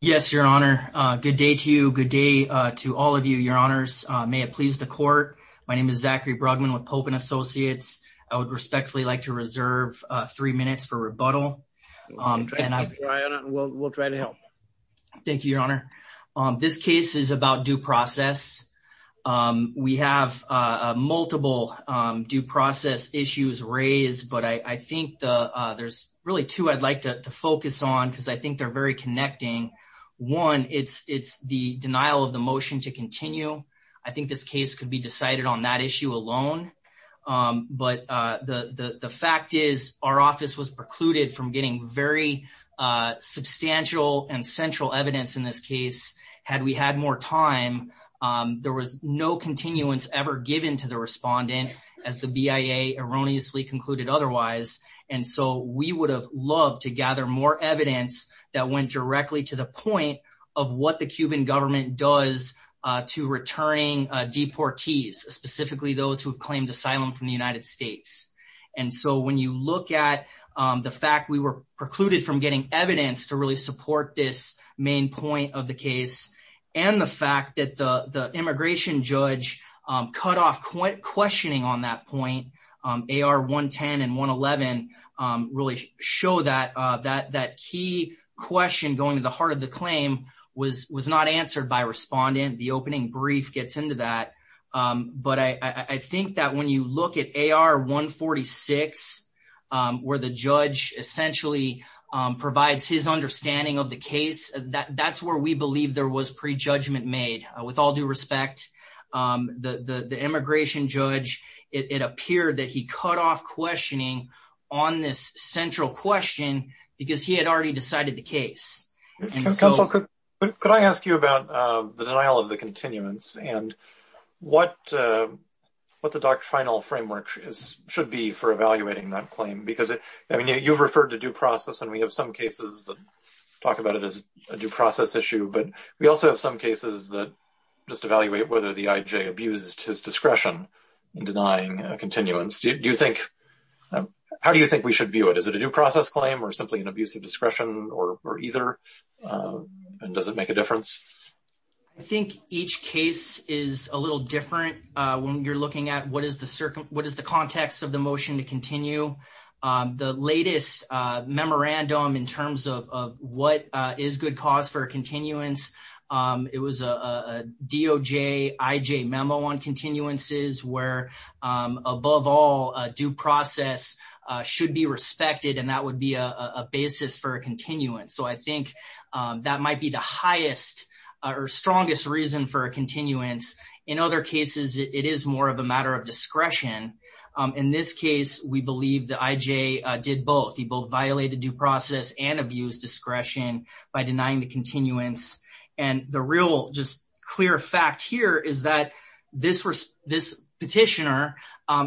Yes, your honor. Good day to you. Good day to all of you, your honors. May it please the court. My name is Zachary Brugman with Pope and Associates. I would respectfully like to reserve three minutes for rebuttal. We'll try to help. Thank you, your honor. This case is about due process. We have multiple due process issues raised, but I think there's really two I'd like to focus on because I think they're very connecting. One, it's the denial of the motion to continue. I think this case could be decided on that issue alone, but the fact is our office was precluded from getting very substantial and central evidence in this case. Had we had more time, there was no continuance ever given to the respondent as the BIA erroneously concluded otherwise. We would have loved to gather more evidence that went directly to the point of what the Cuban government does to returning deportees, specifically those who've claimed asylum from the United States. When you look at the fact we were precluded from getting evidence to really support this main point of the case and the fact that the immigration judge cut off questioning on that point, AR 110 and 111 really show that key question going to the heart of the claim was not answered by respondent. The opening brief gets into that, but I think that when you look at AR 146 where the judge essentially provides his understanding of the case, that's where we appear that he cut off questioning on this central question because he had already decided the case. Could I ask you about the denial of the continuance and what the doctrinal framework should be for evaluating that claim? You've referred to due process and we have some cases that talk about it as a due process issue, but we also have some cases that just evaluate whether the IJ abused his discretion in denying continuance. How do you think we should view it? Is it a due process claim or simply an abuse of discretion or either and does it make a difference? I think each case is a little different when you're looking at what is the context of the motion to continue. The latest memorandum in terms of what is good cause for continuance, it was a DOJ IJ memo on continuances where above all due process should be respected and that would be a basis for a continuance. I think that might be the highest or strongest reason for a continuance. In other cases, it is more of a matter of discretion. In this case, we believe the IJ did both. He both violated due process and abused discretion by denying the continuance. The real clear fact here is that this petitioner,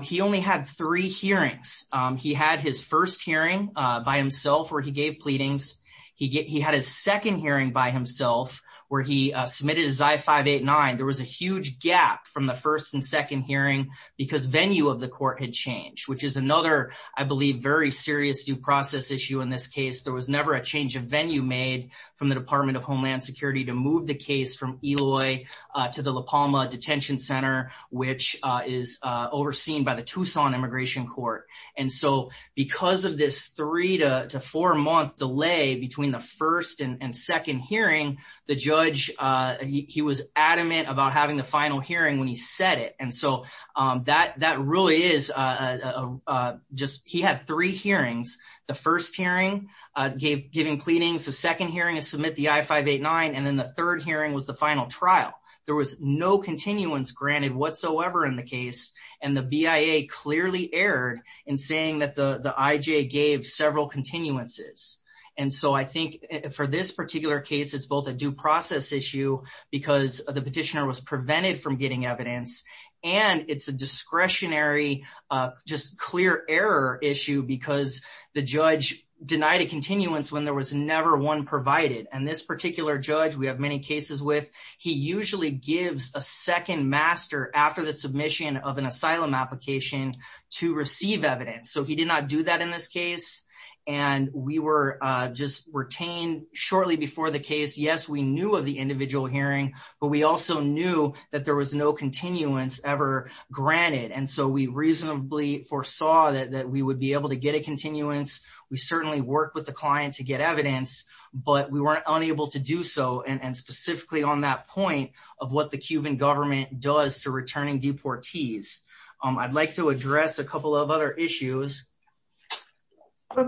he only had three hearings. He had his first hearing by himself where he gave pleadings. He had his second hearing by himself where he submitted his I-589. There was a huge gap from the first and second hearing because venue of another, I believe, very serious due process issue in this case. There was never a change of venue made from the Department of Homeland Security to move the case from Eloy to the La Palma Detention Center, which is overseen by the Tucson Immigration Court. Because of this three to four-month delay between the first and second hearing, the judge was adamant about having the final hearing when he said it. He had three hearings. The first hearing gave pleadings. The second hearing is to submit the I-589. The third hearing was the final trial. There was no continuance granted whatsoever in the case. The BIA clearly erred in saying that the IJ gave several continuances. I think for this particular case, it is both a due process issue because the petitioner was prevented from getting evidence, and it is a discretionary, just clear error issue because the judge denied a continuance when there was never one provided. This particular judge we have many cases with, he usually gives a second master after the submission of an asylum application to receive evidence. He did not do that in this case. We were just retained shortly before the that there was no continuance ever granted. We reasonably foresaw that we would be able to get a continuance. We certainly worked with the client to get evidence, but we were unable to do so and specifically on that point of what the Cuban government does to returning deportees. I'd like to address a couple of other issues. I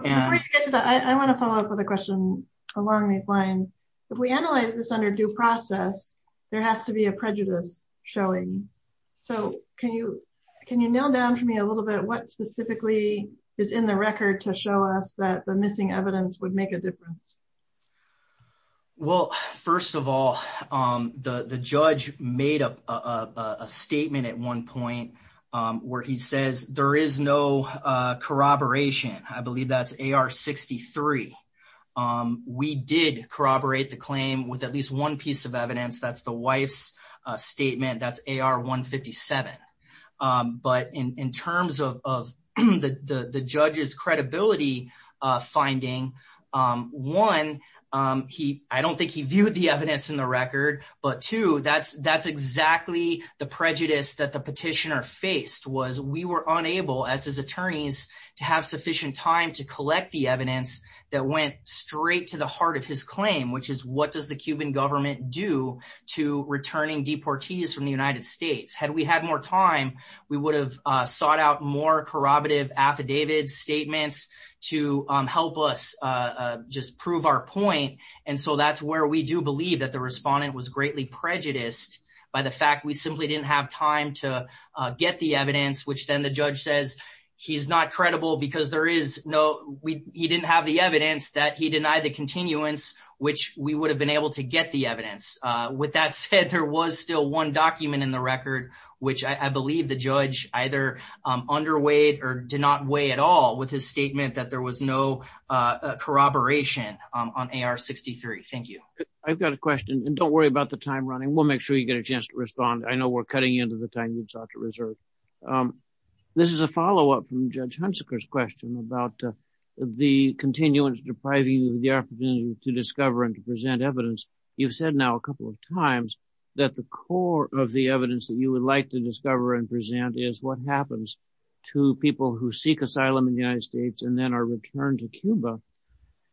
want to follow up with a question along these lines. If we analyze this under due process, there has to be a prejudice showing. Can you can you nail down for me a little bit what specifically is in the record to show us that the missing evidence would make a difference? Well, first of all, the judge made a statement at one point where he says there is no corroboration. I believe that's AR-63. We did corroborate the claim with at least one piece of evidence. That's the wife's statement. That's AR-157, but in terms of the judge's credibility finding, one, I don't think he viewed the evidence in the record, but two, that's his attorneys to have sufficient time to collect the evidence that went straight to the heart of his claim, which is what does the Cuban government do to returning deportees from the United States? Had we had more time, we would have sought out more corroborative affidavit statements to help us just prove our point. That's where we do believe that the respondent was greatly prejudiced by the fact we simply didn't have time to get the evidence, which then the judge says he's not credible because he didn't have the evidence that he denied the continuance, which we would have been able to get the evidence. With that said, there was still one document in the record, which I believe the judge either underweight or did not weigh at all with his statement that there was no corroboration on AR-63. Thank you. I've got a question, and don't worry about the time running. We'll make sure you get a chance to respond. I know we're cutting into the time you'd sought to reserve. This is a follow-up from Judge Hunsaker's question about the continuance depriving you of the opportunity to discover and to present evidence. You've said now a couple of times that the core of the evidence that you would like to discover and present is what happens to people who seek asylum in the United States and then are returned to Cuba.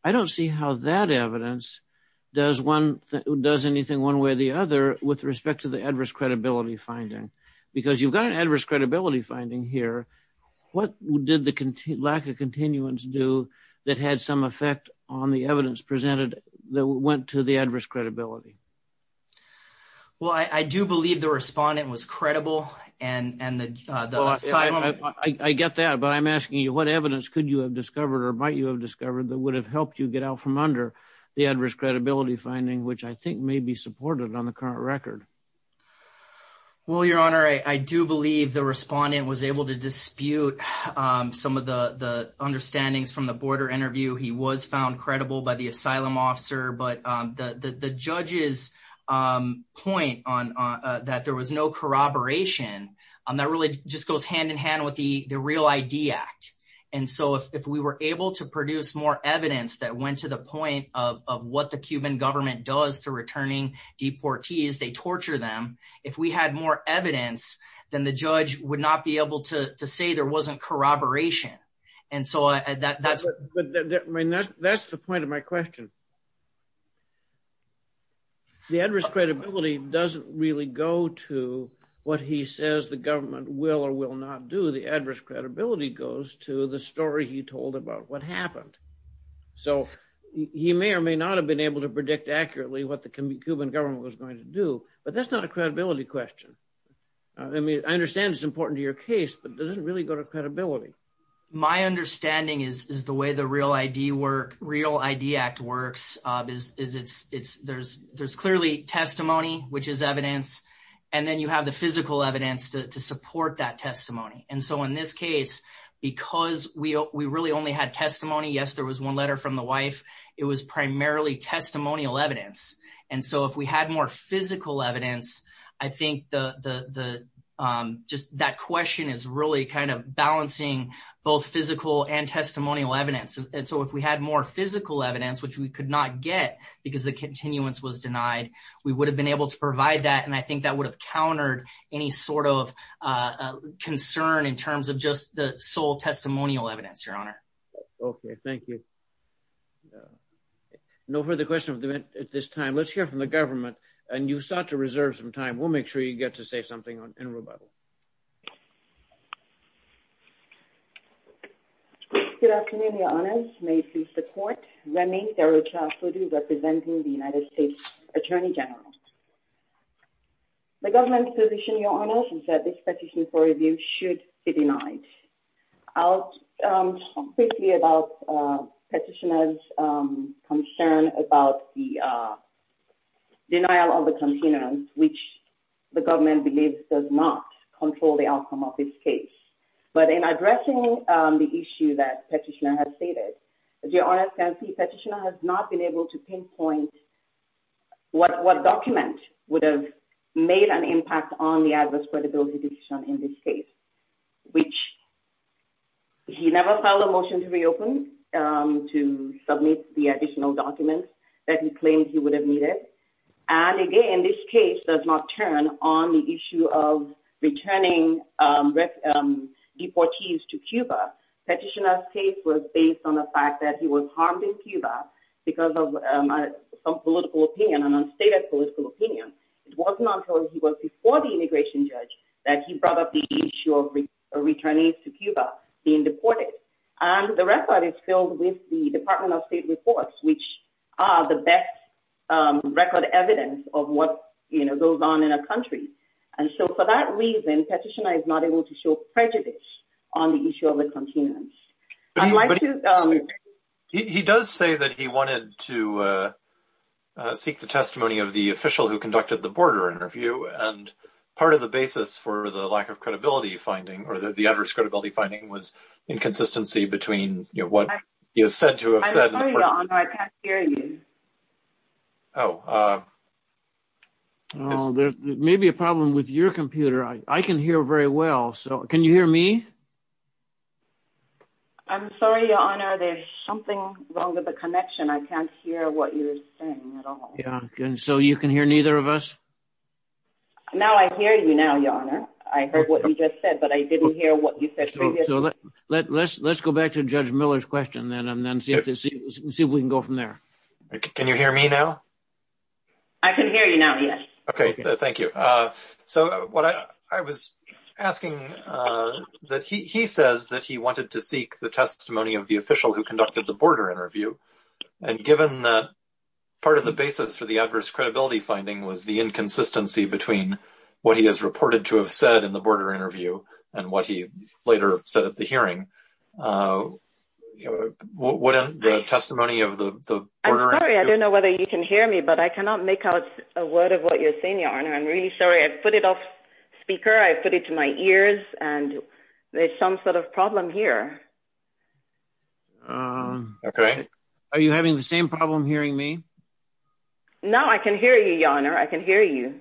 I don't see how that evidence does anything one way or the other with respect to the adverse credibility finding, because you've got an adverse credibility finding here. What did the lack of continuance do that had some effect on the evidence presented that went to the adverse credibility? Well, I do believe the respondent was credible. I get that, but I'm asking you, what evidence could you have discovered or might you have discovered that would have helped you get out from under the adverse credibility finding, which I think may be supported on the current record? Well, Your Honor, I do believe the respondent was able to dispute some of the understandings from the border interview. He was found credible by the asylum officer, but the judge's point that there was no corroboration, that really just goes hand-in-hand with the Real ID Act. And so if we were able to produce more evidence that went to the point of what the Cuban government does to returning deportees, they torture them. If we had more evidence, then the judge would not be able to say there wasn't corroboration. That's the point of my question. The adverse credibility doesn't really go to what he says the government will or will not do. The adverse credibility goes to the story he told about what happened. So he may or may not have been able to predict accurately what the Cuban government was going to do, but that's not a credibility question. I mean, I understand it's important to your case, but it doesn't really go to credibility. My understanding is the way the Real ID Act works is there's clearly testimony, which is evidence, and then you have the physical evidence to support that in this case. Because we really only had testimony, yes, there was one letter from the wife, it was primarily testimonial evidence. And so if we had more physical evidence, I think just that question is really kind of balancing both physical and testimonial evidence. And so if we had more physical evidence, which we could not get because the continuance was denied, we would have been able to provide that, and I think that would have countered any sort of concern in terms of just the sole testimonial evidence, Your Honor. Okay, thank you. No further questions at this time. Let's hear from the government, and you sought to reserve some time. We'll make sure you get to say something in rebuttal. Good afternoon, Your Honors. May it please the Court. Remy Serocha-Fodu, representing the United States Attorney General's Office. I would like to speak briefly about Petitioner's concern about the denial of the continuance, which the government believes does not control the outcome of this case. But in addressing the issue that Petitioner has stated, as Your Honors can see, Petitioner has not been able to pinpoint what document would have made an impact on the adverse credibility in this case, which he never filed a motion to reopen, to submit the additional documents that he claimed he would have needed. And again, this case does not turn on the issue of returning deportees to Cuba. Petitioner's case was based on the fact that he was harmed in Cuba because of some political opinion, an unstated political opinion. It was not until he was before the immigration judge that he brought up the issue of returning to Cuba, being deported. And the record is filled with the Department of State reports, which are the best record evidence of what goes on in a country. And so for that reason, Petitioner is not able to show prejudice on the issue of the continuance. He does say that he wanted to part of the basis for the lack of credibility finding, or the adverse credibility finding, was inconsistency between what he is said to have said. I'm sorry, Your Honor, I can't hear you. Oh, there may be a problem with your computer. I can hear very well. So can you hear me? I'm sorry, Your Honor, there's something wrong with the connection. I can't hear what you're saying at all. Yeah, so you can hear neither of us? No, I hear you now, Your Honor. I heard what you just said, but I didn't hear what you said. So let's go back to Judge Miller's question then, and then see if we can go from there. Can you hear me now? I can hear you now, yes. Okay, thank you. So what I was asking, that he says that he wanted to seek the testimony of the official who conducted the border interview. And given that part of the basis for the adverse credibility finding was the inconsistency between what he is reported to have said in the border interview and what he later said at the hearing, wouldn't the testimony of the border— I'm sorry, I don't know whether you can hear me, but I cannot make out a word of what you're saying, Your Honor. I'm really sorry. I put it off speaker. I put it to my ears, and there's some sort of problem here. Okay. Are you having the same problem hearing me? No, I can hear you, Your Honor. I can hear you.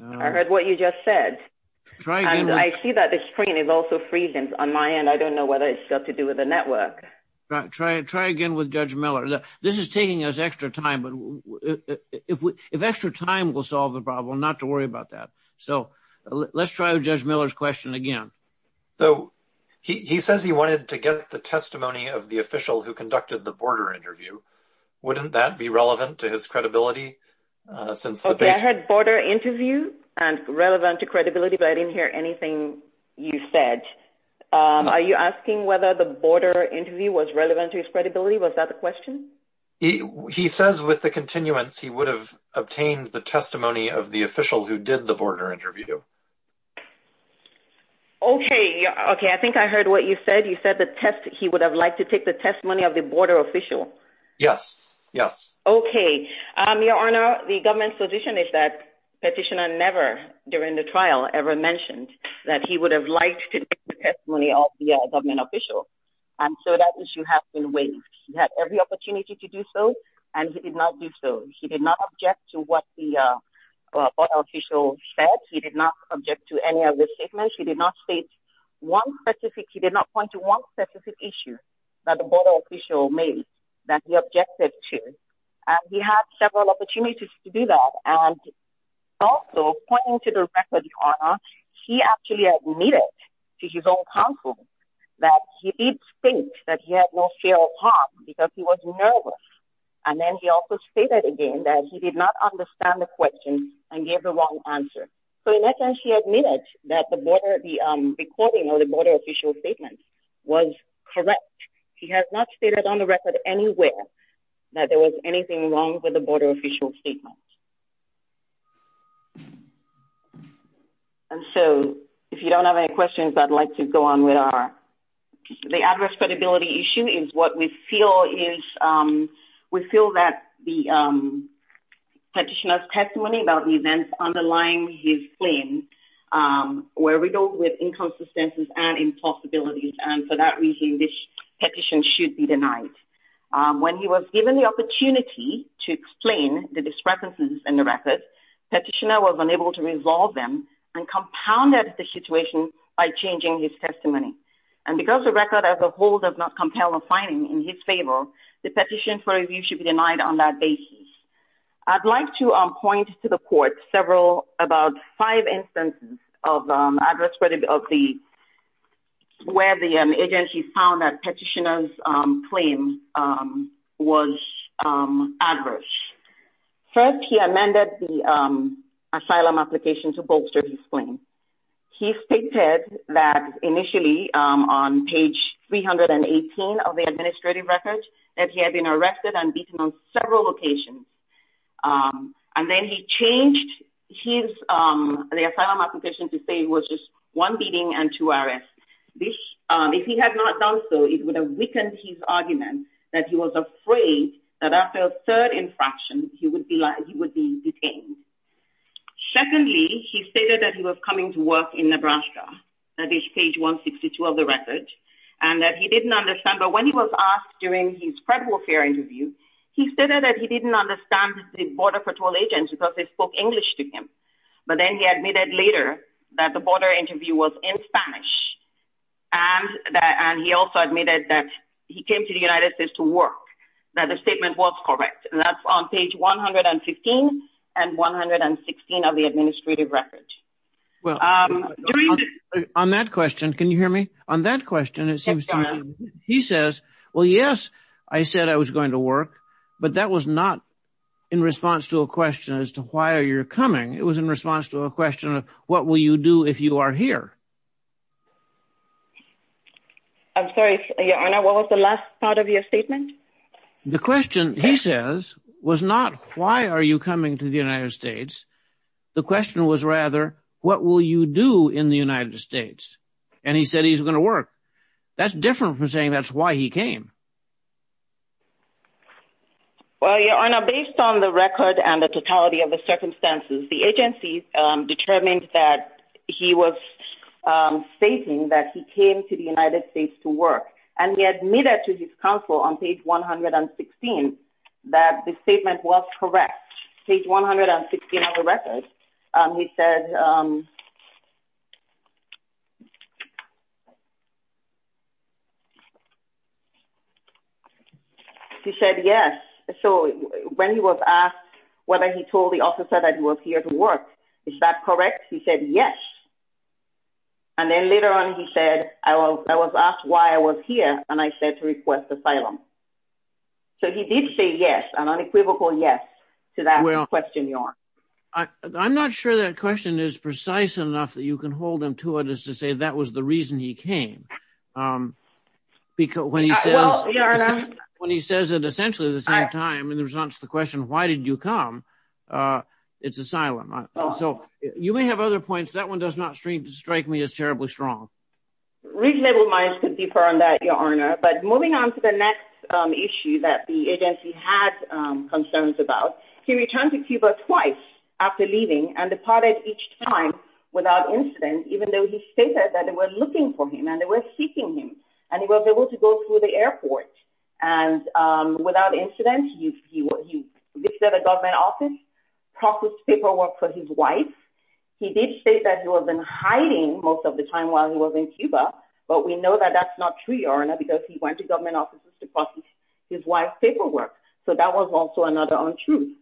I heard what you just said. And I see that the screen is also freezing on my end. I don't know whether it's got to do with the network. Try again with Judge Miller. This is taking us extra time, but if extra time will solve the problem, not to worry about that. So let's try with Judge Miller's question again. So he says he wanted to get the testimony of the official who conducted the border interview. Wouldn't that be relevant to his credibility since the— I heard border interview and relevant to credibility, but I didn't hear anything you said. Are you asking whether the border interview was relevant to his credibility? Was that the question? He says with the continuance, he would have obtained the testimony of the official who did the border interview. Okay. Okay. I think I heard what you said. You said he would have liked to take the Yes. Yes. Okay. Your Honor, the government's position is that petitioner never, during the trial, ever mentioned that he would have liked to take the testimony of the government official. And so that issue has been waived. He had every opportunity to do so, and he did not do so. He did not object to what the border official said. He did not object to any of the statements. He did not state one specific—he did not point to one specific issue that the He had several opportunities to do that. And also, pointing to the record, Your Honor, he actually admitted to his own counsel that he did think that he had no failed harm because he was nervous. And then he also stated again that he did not understand the question and gave the wrong answer. So in essence, he admitted that the border—the recording of the border statement was correct. He has not stated on the record anywhere that there was anything wrong with the border official statement. And so, if you don't have any questions, I'd like to go on with our—the address credibility issue is what we feel is—we feel that the petitioner's testimony about the events underlying his claim, um, were riddled with inconsistencies and impossibilities. And for that reason, this petition should be denied. When he was given the opportunity to explain the discrepancies in the record, petitioner was unable to resolve them and compounded the situation by changing his testimony. And because the record as a whole does not compel a finding in his favor, the petition for review should be denied on that basis. I'd like to point to the court several—about five instances of, um, address credibility of the—where the agency found that petitioner's, um, claim, um, was, um, adverse. First, he amended the, um, asylum application to bolster his claim. He stated that initially, um, on page 318 of the administrative record that he had been the asylum application to stay was just one beating and two arrests. This, um, if he had not done so, it would have weakened his argument that he was afraid that after a third infraction, he would be like—he would be detained. Secondly, he stated that he was coming to work in Nebraska, that is page 162 of the record, and that he didn't understand. But when he was asked during his credible fair interview, he stated that he didn't understand the border patrol agents because they admitted later that the border interview was in Spanish, and that—and he also admitted that he came to the United States to work, that the statement was correct. And that's on page 115 and 116 of the administrative record. Well, um, during the— On that question, can you hear me? On that question, it seems to me, he says, well, yes, I said I was going to work, but that was not in response to a question as to why are you coming, it was in response to a question of what will you do if you are here? I'm sorry, Your Honor, what was the last part of your statement? The question, he says, was not why are you coming to the United States? The question was rather, what will you do in the United States? And he said he's going to work. That's different from saying that's why he came. Well, Your Honor, based on the record and the totality of the circumstances, the agency determined that he was stating that he came to the United States to work, and he admitted to his counsel on page 116 that the statement was correct. Page 116 of the record, he said, he said yes. So when he was asked whether he told the officer that he was here to work, is that correct? He said yes. And then later on, he said, I was asked why I was here, and I said to request asylum. So he did say yes, an unequivocal yes to that question, Your Honor. I'm not sure that question is precise enough that you can hold him to it as to say that was the reason he came. When he says it essentially at the same time in response to the question, why did you come? It's asylum. So you may have other points. That one does not strike me as terribly strong. Reasonable minds could differ on that, Your Honor. But moving on to the next issue that the agency had concerns about, he returned to Cuba twice after leaving and departed each time without incident, even though he stated that they were looking for him and they were seeking him, and he was able to go through the airport. And without incident, he visited a government office, processed paperwork for his wife. He did state that he was in hiding most of the time while he was in Cuba, but we know that that's not true, Your Honor, because he went to government offices to process his wife's paperwork. So that was also another truth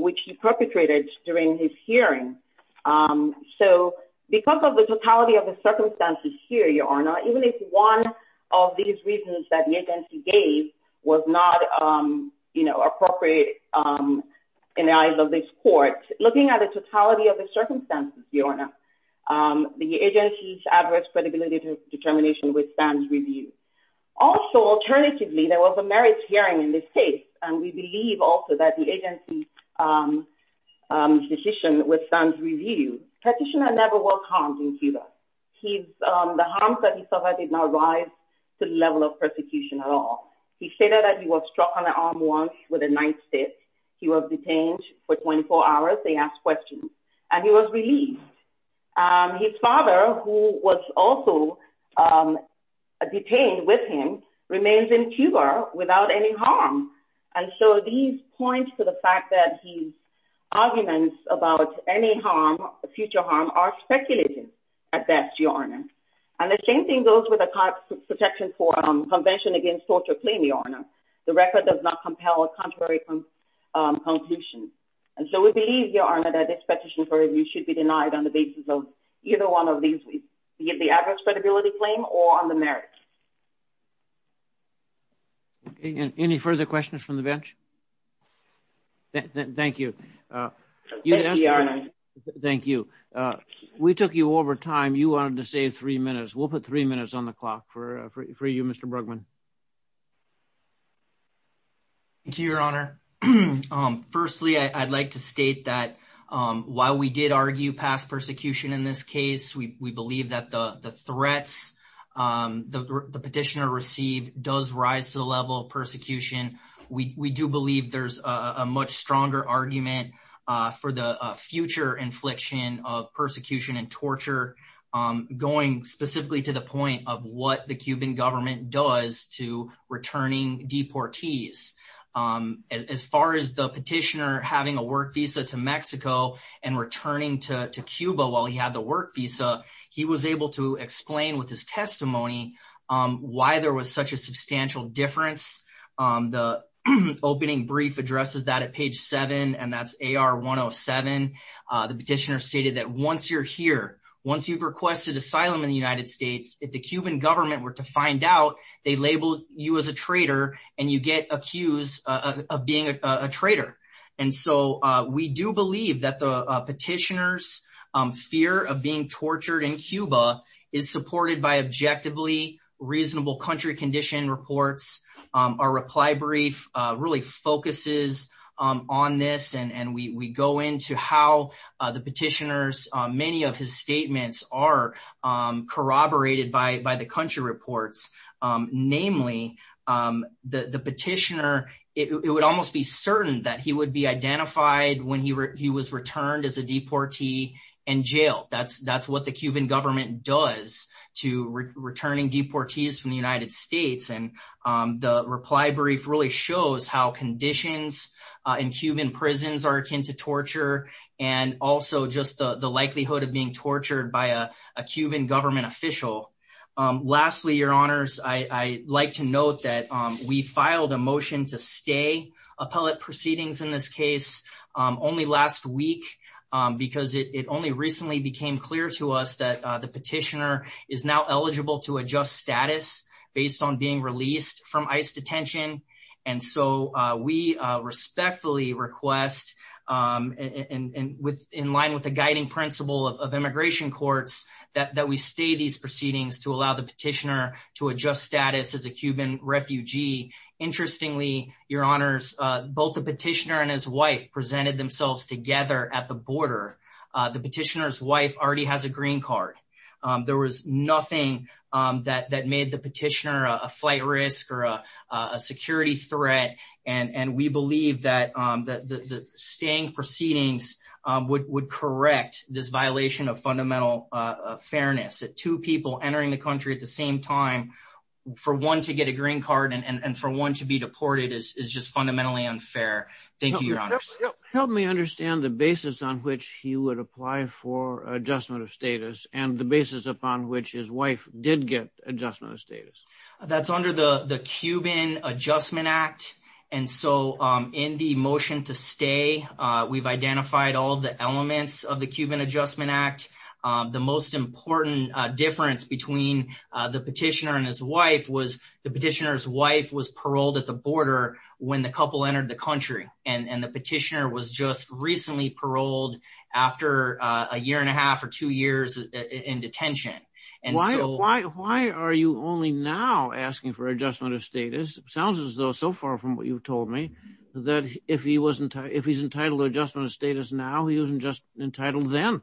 which he perpetrated during his hearing. So because of the totality of the circumstances here, Your Honor, even if one of these reasons that the agency gave was not appropriate in the eyes of this court, looking at the totality of the circumstances, Your Honor, the agency's adverse credibility determination withstands review. Also, alternatively, there was a merits hearing in this case, and we believe also that the agency's decision withstands review. Petitioner never was harmed in Cuba. The harms that he suffered did not rise to the level of persecution at all. He stated that he was struck on the arm once with a knife stick. He was detained for 24 hours. They asked questions, and he was released. His father, who was also detained with him, remains in Cuba without any harm. And so these points to the fact that his arguments about any harm, future harm, are speculative at best, Your Honor. And the same thing goes with the protection for convention against torture claim, Your Honor. The record does not compel a contrary conclusion. And so we believe, Your Honor, that this petition should be denied on the basis of either one of these, the adverse credibility claim or on the merits. Any further questions from the bench? Thank you. Thank you. We took you over time. You wanted to save three minutes. We'll put three minutes on the clock for you, Mr. Brugman. Thank you, Your Honor. Firstly, I'd like to state that while we did argue past persecution in this case, we believe that the threats the petitioner received does rise to the level of persecution. We do believe there's a much stronger argument for the future infliction of persecution and torture going specifically to the point of what the Cuban government does to returning deportees. As far as the petitioner having a work visa to Mexico and returning to Cuba while he had the work visa, he was able to explain with his testimony why there was such a substantial difference. The opening brief addresses that at page seven, and that's AR 107. The petitioner stated that once you're here, once you've requested asylum in the United States, if the Cuban government were to find out, they label you as a traitor and you get accused of being a traitor. We do believe that the petitioner's fear of being tortured in Cuba is supported by objectively reasonable country condition reports. Our reply brief really focuses on this, and we go into how the petitioner's many of his statements are corroborated by the country reports. Namely, the petitioner, it would almost be certain that he would be identified when he was returned as a deportee and jailed. That's what the Cuban government does to returning deportees from the United States. The reply brief really shows how conditions in Cuban prisons are to torture and also just the likelihood of being tortured by a Cuban government official. Lastly, your honors, I like to note that we filed a motion to stay appellate proceedings in this case only last week because it only recently became clear to us that the petitioner is now eligible to adjust status based on being released from ICE detention. We respectfully request and in line with the guiding principle of immigration courts that we stay these proceedings to allow the petitioner to adjust status as a Cuban refugee. Interestingly, your honors, both the petitioner and his wife presented themselves together at the border. The petitioner's wife already has a green card. There was nothing that made the petitioner a security threat. We believe that the staying proceedings would correct this violation of fundamental fairness. Two people entering the country at the same time for one to get a green card and for one to be deported is just fundamentally unfair. Thank you, your honors. Help me understand the basis on which he would apply for adjustment of status and the basis upon which his wife did get adjustment of status. That's under the Cuban Adjustment Act. In the motion to stay, we've identified all the elements of the Cuban Adjustment Act. The most important difference between the petitioner and his wife was the petitioner's wife was paroled at the border when the couple entered the country. The petitioner was just recently paroled after a Why are you only now asking for adjustment of status? It sounds as though so far from what you've told me that if he's entitled to adjustment of status now, he wasn't just entitled then,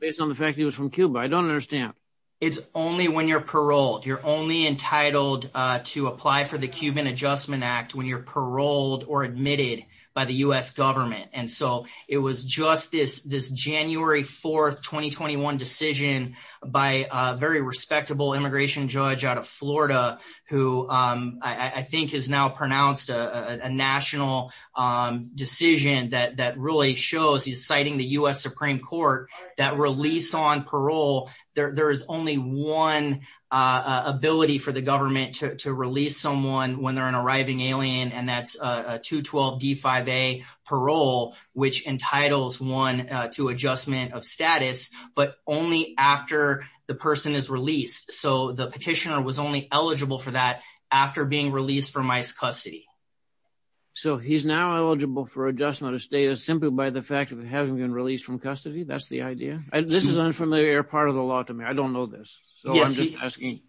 based on the fact he was from Cuba. I don't understand. It's only when you're paroled. You're only entitled to apply for the Cuban Adjustment Act when you're paroled or admitted by the U.S. government. It was just this January 4, 2021 decision by a very respectable immigration judge out of Florida who I think has now pronounced a national decision that really shows he's citing the U.S. Supreme Court that release on parole, there is only one ability for the government to release someone when they're an arriving alien, and that's a 212 D5A parole, which entitles one to adjustment of status, but only after the person is released. So the petitioner was only eligible for that after being released from ICE custody. So he's now eligible for adjustment of status simply by the fact that it hasn't been released from custody. That's the idea. This is an unfamiliar part of the law to me. I don't know so I'm just asking.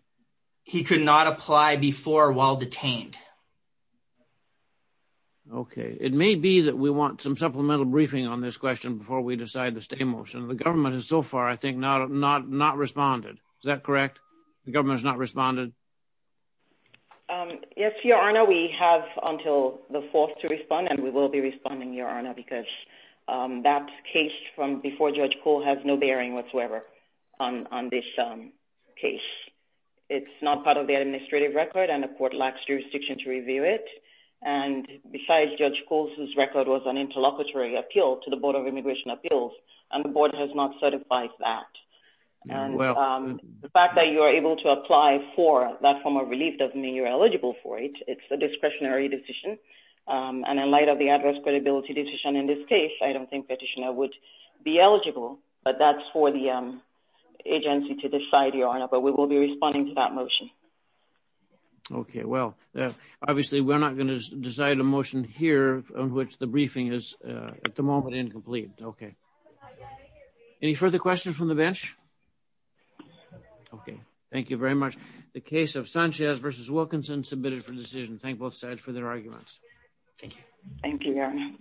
He could not apply before while detained. Okay. It may be that we want some supplemental briefing on this question before we decide the stay motion. The government has so far, I think, not responded. Is that correct? The government has not responded? Yes, Your Honor. We have until the fourth to respond, and we will be responding, Your Honor, because that case from before Judge Kuhl has no bearing whatsoever on this case. It's not part of the administrative record, and the court lacks jurisdiction to review it, and besides, Judge Kuhl's record was an interlocutory appeal to the Board of Immigration Appeals, and the board has not certified that. The fact that you are able to apply for that form of relief doesn't mean you're eligible for it. It's a discretionary decision, and in light of the adverse credibility decision in this case, I don't think petitioner be eligible, but that's for the agency to decide, Your Honor, but we will be responding to that motion. Okay. Well, obviously, we're not going to decide a motion here on which the briefing is at the moment incomplete. Okay. Any further questions from the bench? Okay. Thank you very much. The case of Sanchez v. Wilkinson submitted for decision. Thank both sides for their arguments. Thank you, Your Honor.